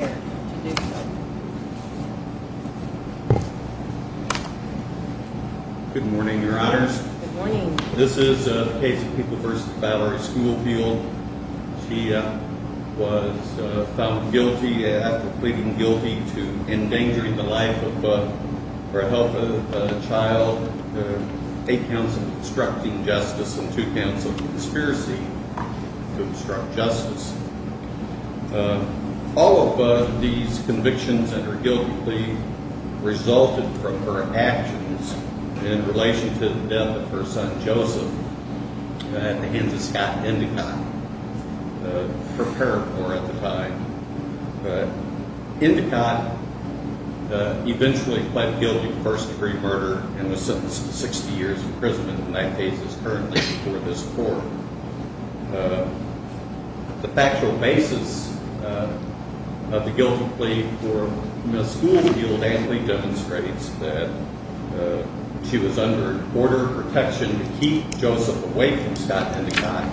She was found guilty after pleading guilty to endangering the life of her health, a child, eight counts of obstructing justice, and two counts of conspiracy to obstruct justice. All of these convictions and her guilty plea resulted from her actions in relation to the death of her son, Joseph, at the hands of Scott Endicott, her paramour at the time. Endicott eventually pled guilty to first degree murder and was sentenced to 60 years imprisonment, and that case is currently before this court. The factual basis of the guilty plea for Ms. Schoolfield annually demonstrates that she was under border protection to keep Joseph away from Scott Endicott,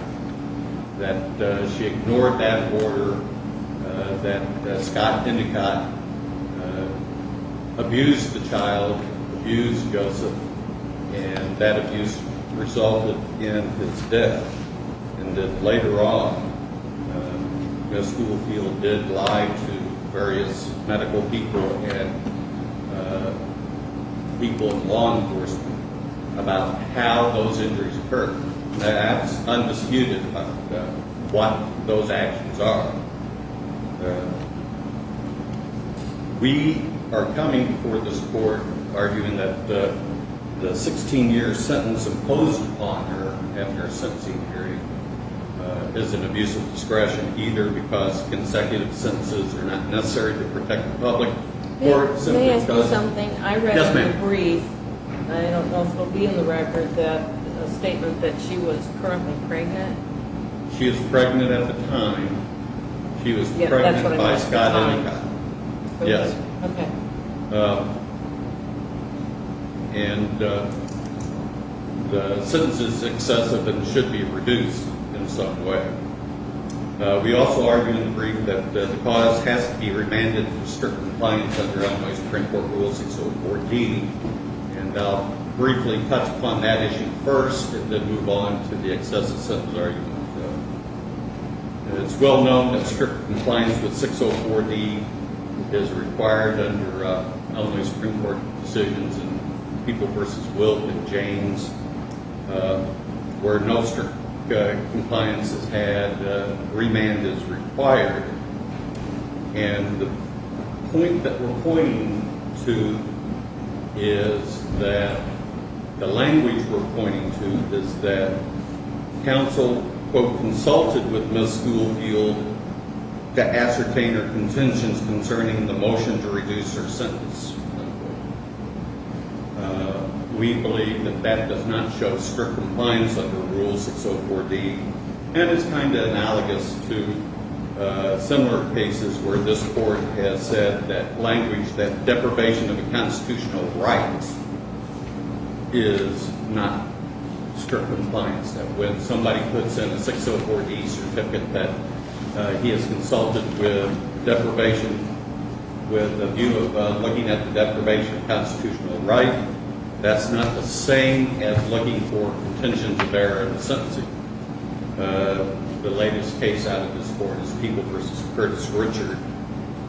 that she ignored that order, that Scott Endicott abused the child, abused Joseph, and that abuse resulted in his death, and that later on Ms. Schoolfield did lie to various medical people and people in law enforcement about how those injuries occurred. That's undisputed about what those actions are. We are coming before this court arguing that the 16 year sentence imposed upon her after her sentencing period is an abuse of discretion either because consecutive sentences are not necessary to protect the public or simply because May I ask you something? I read in the brief, and I don't know if it will be in the record, that statement that she was currently pregnant. She was pregnant at the time. She was pregnant by Scott Endicott. Yes. And the sentence is excessive and should be reduced in some way. We also argue in the brief that the cause has to be remanded for strict compliance under Illinois Supreme Court Rule 604D, and I'll briefly touch upon that issue first and then move on to the excessive sentence argument. It's well known that strict compliance with 604D is required under Illinois Supreme Court decisions in People v. Wilt and James where no strict compliance is had, remand is required. And the point that we're pointing to is that, the language we're pointing to is that counsel, quote, consulted with Ms. Schoolfield to ascertain her contentions concerning the motion to reduce her sentence. We believe that that does not show strict compliance under Rule 604D. And it's kind of analogous to similar cases where this Court has said that language, that deprivation of constitutional rights is not strict compliance. When somebody puts in a 604D certificate that he has consulted with deprivation, with a view of looking at the deprivation of constitutional rights, that's not the same as looking for contention to bear in a sentencing. The latest case out of this Court is People v. Curtis Richard,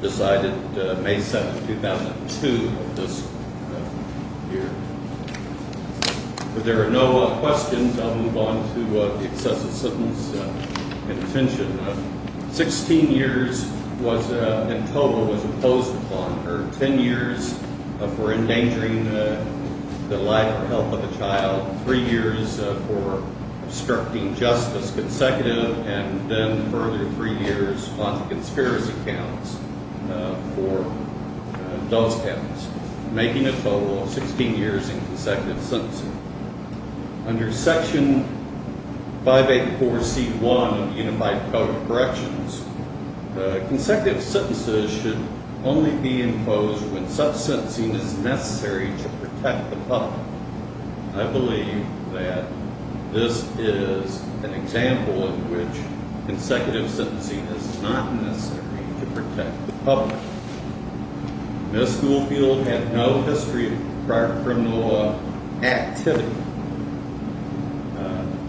decided May 7, 2002 of this year. If there are no questions, I'll move on to the excessive sentence contention. Sixteen years in total was imposed upon her. Ten years for endangering the life or health of a child. Three years for obstructing justice consecutive. And then further three years on the conspiracy counts for those counts. Making a total of 16 years in consecutive sentencing. Under Section 584C1 of the Unified Code of Corrections, consecutive sentences should only be imposed when such sentencing is necessary to protect the public. I believe that this is an example in which consecutive sentencing is not necessary to protect the public. Ms. Schoolfield had no history of prior criminal activity.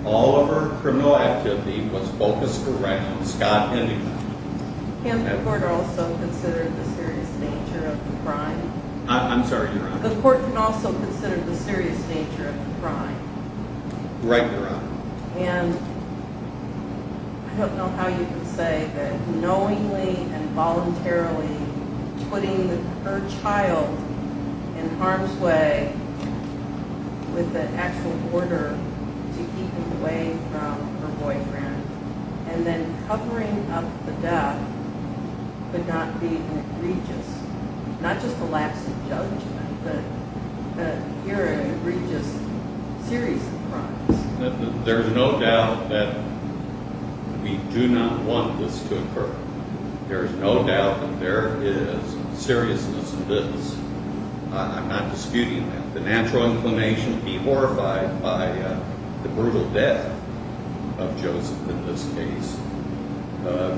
All of her criminal activity was focused around Scott Hennigan. Can the Court also consider the serious nature of the crime? I'm sorry, Your Honor. The Court can also consider the serious nature of the crime? Right, Your Honor. And I don't know how you can say that knowingly and voluntarily putting her child in harm's way with the actual order to keep him away from her boyfriend and then covering up the death could not be an egregious, not just a lapse of judgment, but here an egregious series of crimes. There is no doubt that we do not want this to occur. There is no doubt that there is seriousness in this. I'm not disputing that. The natural inclination to be horrified by the brutal death of Joseph in this case.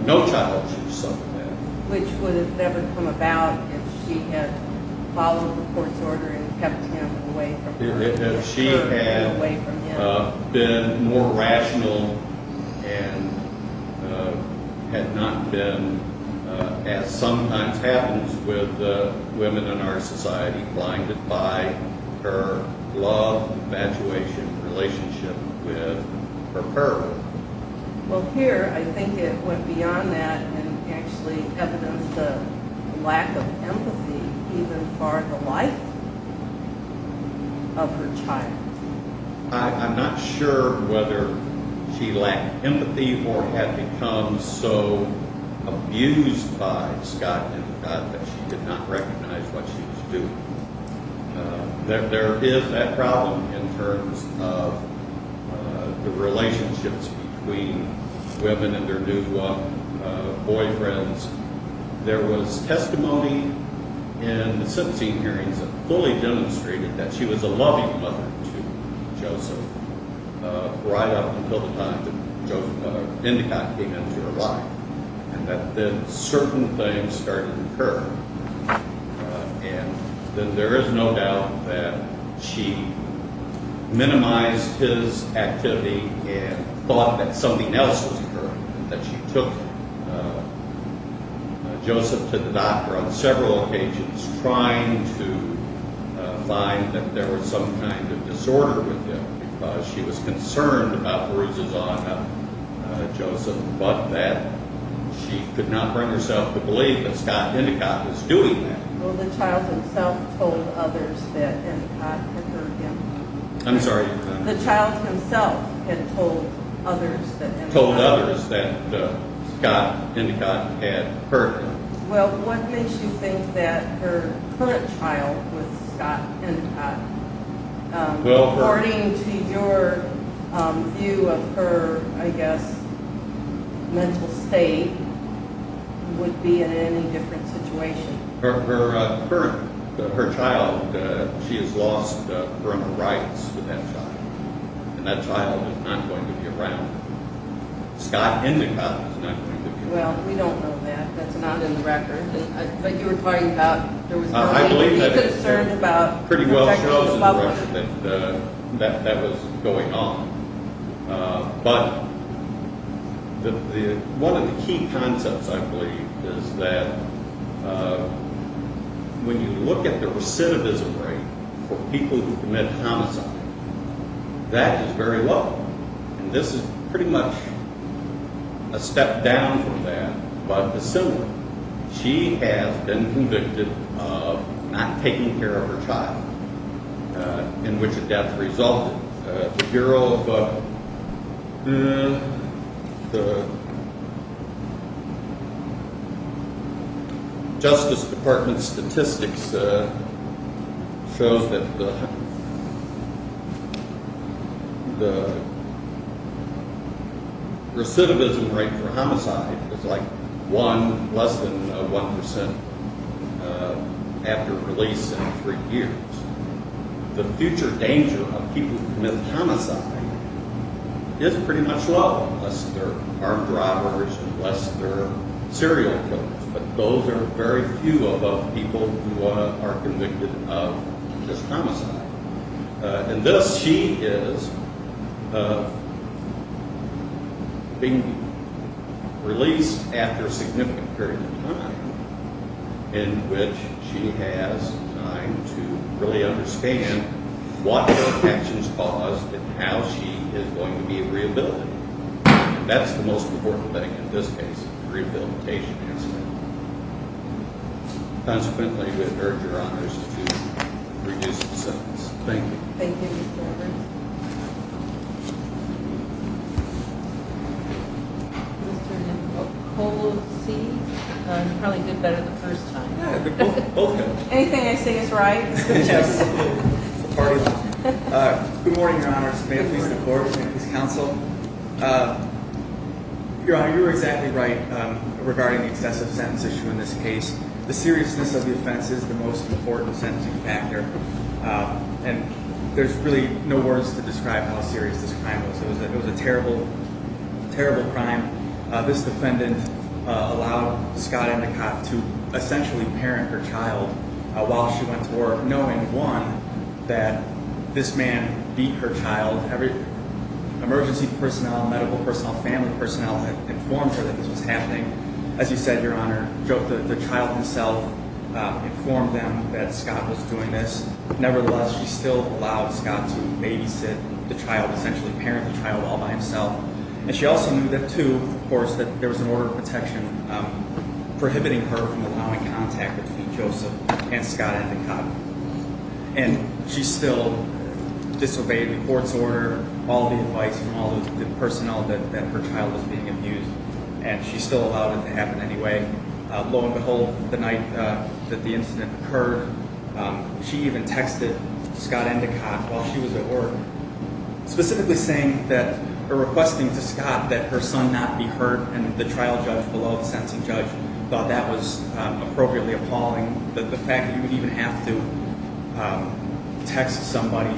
No child should suffer that. Which would have never come about if she had followed the Court's order and kept him away from her. If she had been more rational and had not been, as sometimes happens with women in our society, blinded by her love, infatuation, relationship with her girl. Well, here I think it went beyond that and actually evidenced a lack of empathy even for the life of her child. I'm not sure whether she lacked empathy or had become so abused by Scott and God that she did not recognize what she was doing. There is that problem in terms of the relationships between women and their new boyfriends. There was testimony in the sentencing hearings that fully demonstrated that she was a loving mother to Joseph right up until the time that Joseph's mother, Endicott, came into her life. And that then certain things started to occur. And there is no doubt that she minimized his activity and thought that something else was occurring. That she took Joseph to the doctor on several occasions trying to find that there was some kind of disorder with him. Because she was concerned about Beruza's honor, Joseph. But that she could not bring herself to believe that Scott Endicott was doing that. Well, the child himself told others that Endicott had hurt him. I'm sorry. The child himself had told others that Endicott had hurt him. Told others that Scott Endicott had hurt him. Well, what makes you think that her current child was Scott Endicott? According to your view of her, I guess, mental state would be in any different situation. Her current, her child, she has lost her rights with that child. And that child is not going to be around. Scott Endicott is not going to be around. Well, we don't know that. That's not in the record. But you were talking about there was no way to be concerned about protection of loved ones. I believe that pretty well shows the direction that that was going on. But one of the key concepts, I believe, is that when you look at the recidivism rate for people who commit homicide, that is very low. And this is pretty much a step down from that. But the similar, she has been convicted of not taking care of her child, in which a death resulted. The Bureau of Justice Department statistics shows that the recidivism rate for homicide is like 1, less than 1 percent after release in three years. The future danger of people who commit homicide is pretty much low, unless they're armed robbers, unless they're serial killers. But those are very few above people who are convicted of just homicide. And thus she is being released after a significant period of time in which she has time to really understand what those actions caused and how she is going to be rehabilitated. And that's the most important thing in this case, the rehabilitation incident. Consequently, we would urge your honors to reduce the sentence. Thank you. Thank you, Mr. Roberts. Is this turned into a cold seat? You probably did better the first time. Yeah, both times. Anything I say is right. Yes. Good morning, your honors. May it please the court. Your honor, you were exactly right regarding the excessive sentence issue in this case. The seriousness of the offense is the most important sentencing factor. And there's really no words to describe how serious this crime was. It was a terrible, terrible crime. This defendant allowed Scott Endicott to essentially parent her child while she went to work, knowing, one, that this man beat her child. Emergency personnel, medical personnel, family personnel had informed her that this was happening. As you said, your honor, the child himself informed them that Scott was doing this. Nevertheless, she still allowed Scott to babysit the child, essentially parent the child all by himself. And she also knew that, two, of course, that there was an order of protection prohibiting her from allowing contact between Joseph and Scott Endicott. And she still disobeyed the court's order, all the advice from all the personnel that her child was being abused, and she still allowed it to happen anyway. Lo and behold, the night that the incident occurred, she even texted Scott Endicott while she was at work, specifically saying that her requesting to Scott that her son not be hurt, and the trial judge below, the sentencing judge, thought that was appropriately appalling. The fact that you would even have to text somebody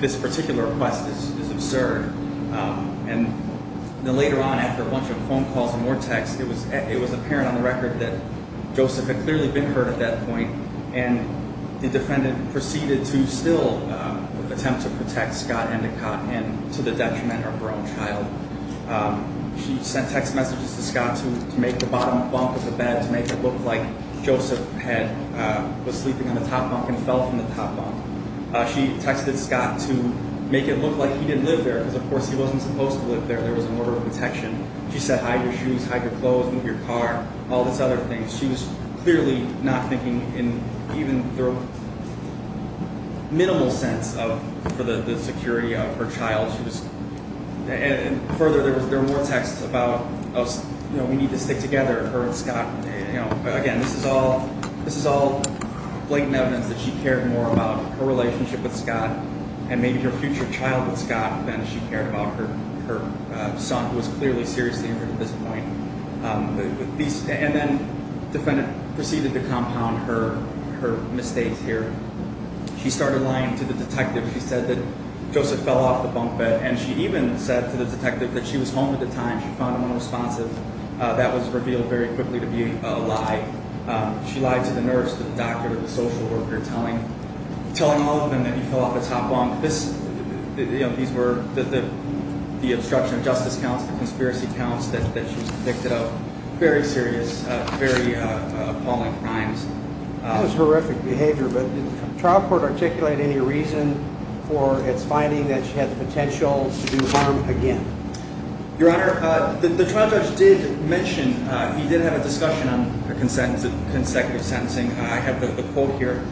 this particular request is absurd. And then later on, after a bunch of phone calls and more texts, it was apparent on the record that Joseph had clearly been hurt at that point, and the defendant proceeded to still attempt to protect Scott Endicott and to the detriment of her own child. She sent text messages to Scott to make the bottom bunk of the bed, to make it look like Joseph was sleeping on the top bunk and fell from the top bunk. She texted Scott to make it look like he didn't live there, because of course he wasn't supposed to live there. There was an order of protection. She said, hide your shoes, hide your clothes, move your car, all these other things. She was clearly not thinking in even the minimal sense for the security of her child. And further, there were more texts about, you know, we need to stick together, her and Scott. Again, this is all blatant evidence that she cared more about her relationship with Scott and maybe her future child with Scott than she cared about her son, who was clearly seriously injured at this point. And then the defendant proceeded to compound her mistakes here. She started lying to the detective. She said that Joseph fell off the bunk bed, and she even said to the detective that she was home at the time. She found him unresponsive. That was revealed very quickly to be a lie. She lied to the nurse, the doctor, the social worker, telling all of them that he fell off the top bunk. These were the obstruction of justice counts, the conspiracy counts that she was convicted of, very serious, very appalling crimes. That was horrific behavior. But did the trial court articulate any reason for its finding that she had the potential to do harm again? Your Honor, the trial judge did mention, he did have a discussion on consecutive sentencing. I have the quote here.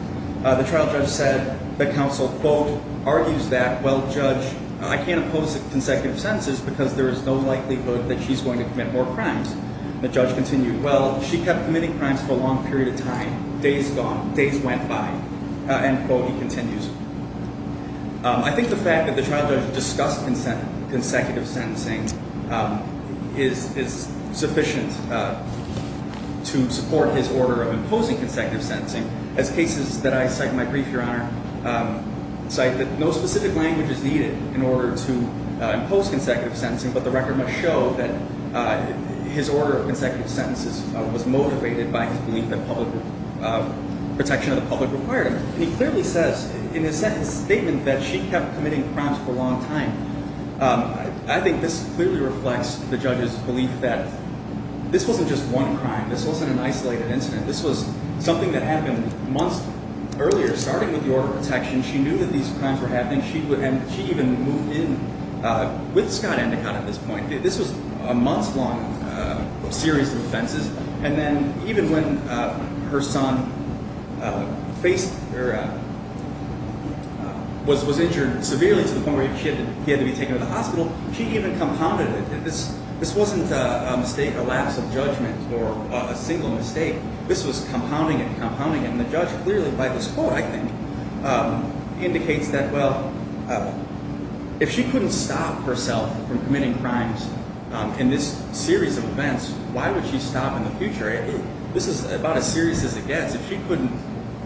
The trial judge said that counsel, quote, argues that, well, judge, I can't oppose consecutive sentences because there is no likelihood that she's going to commit more crimes. The judge continued, well, she kept committing crimes for a long period of time, days gone, days went by. End quote, he continues. I think the fact that the trial judge discussed consecutive sentencing is sufficient to support his order of imposing consecutive sentencing. As cases that I cite in my brief, Your Honor, cite that no specific language is needed in order to impose consecutive sentencing, but the record must show that his order of consecutive sentences was motivated by his belief that protection of the public required it. He clearly says in his statement that she kept committing crimes for a long time. I think this clearly reflects the judge's belief that this wasn't just one crime. This wasn't an isolated incident. This was something that happened months earlier, starting with the order of protection. She knew that these crimes were happening. She even moved in with Scott Endicott at this point. This was a months-long series of offenses. And then even when her son was injured severely to the point where he had to be taken to the hospital, she even compounded it. This wasn't a lapse of judgment or a single mistake. This was compounding it and compounding it. And the judge clearly, by the score, I think, indicates that, well, if she couldn't stop herself from committing crimes in this series of events, why would she stop in the future? This is about as serious as it gets. If she couldn't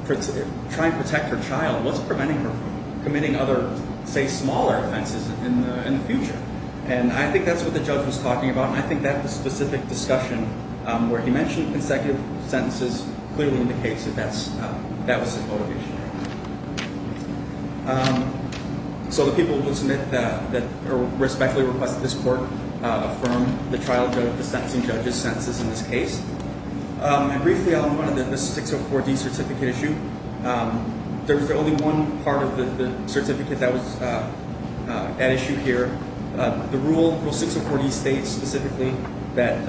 try and protect her child, what's preventing her from committing other, say, smaller offenses in the future? And I think that's what the judge was talking about, and I think that specific discussion where he mentioned consecutive sentences clearly indicates that that was his motivation. So the people who submit that respectfully request that this court affirm the trial of the sentencing judge's sentences in this case. And briefly, I'll point to the 604D certificate issue. There's only one part of the certificate that was at issue here. The rule, Rule 604D, states specifically that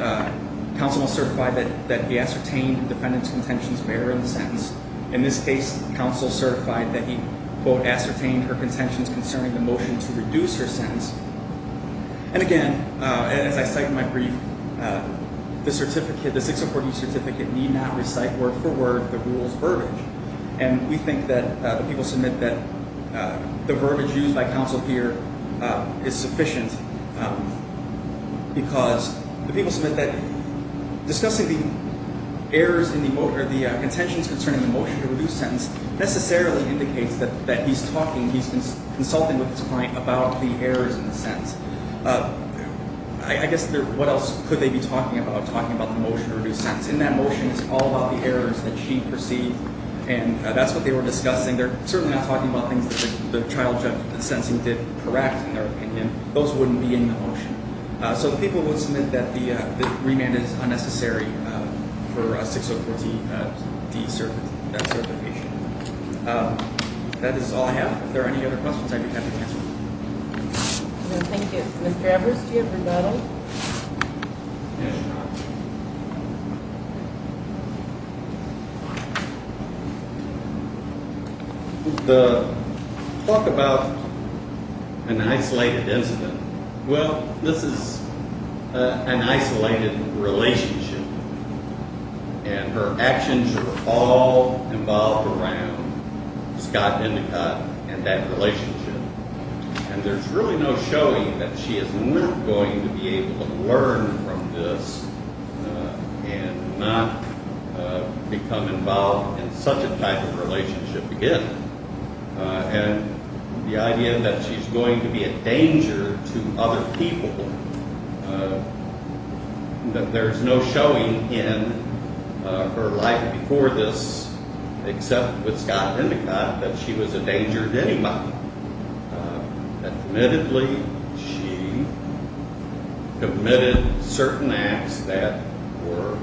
counsel must certify that the ascertained defendant's contentions bear in the sentence. In this case, counsel certified that he, quote, ascertained her contentions concerning the motion to reduce her sentence. And again, as I cite in my brief, the 604D certificate need not recite word for word the rule's verbiage. And we think that the people submit that the verbiage used by counsel here is sufficient because the people submit that discussing the errors in the, or the contentions concerning the motion to reduce sentence necessarily indicates that he's talking, he's consulting with his client about the errors in the sentence. I guess what else could they be talking about? Talking about the motion to reduce sentence. In that motion, it's all about the errors that she perceived, and that's what they were discussing. They're certainly not talking about things that the child sentencing did correct, in their opinion. Those wouldn't be in the motion. So the people would submit that the remand is unnecessary for 604D certification. That is all I have. If there are any other questions, I'd be happy to answer them. Thank you. Mr. Evers, do you have a rebuttal? Yes, Your Honor. The talk about an isolated incident, well, this is an isolated relationship, and her actions were all involved around Scott Hendicott and that relationship. And there's really no showing that she is not going to be able to learn from this and not become involved in such a type of relationship again. And the idea that she's going to be a danger to other people, that there's no showing in her life before this, except with Scott Hendicott, that she was a danger to anybody. Admittedly, she committed certain acts that were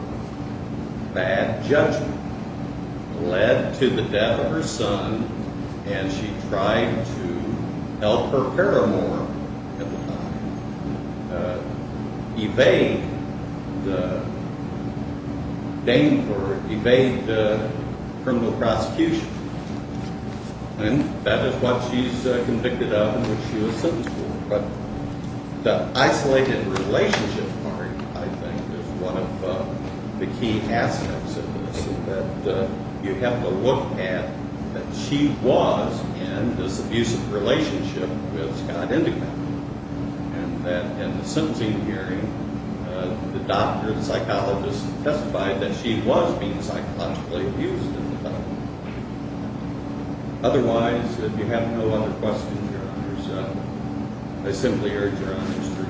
bad judgment, led to the death of her son, and she tried to help her paramour at the time evade the criminal prosecution. And that is what she's convicted of and what she was sentenced for. But the isolated relationship part, I think, is one of the key aspects of this, that you have to look at that she was in this abusive relationship with Scott Hendicott. And that in the sentencing hearing, the doctor, the psychologist, testified that she was being psychologically abused. Otherwise, if you have no other questions, Your Honor, I simply urge Your Honor to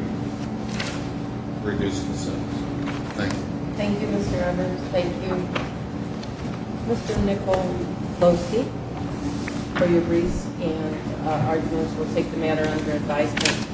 reduce the sentence. Thank you. Thank you, Mr. Evans. Thank you. Mr. Nicole Losey, for your briefs and arguments. We'll take the matter under advisement.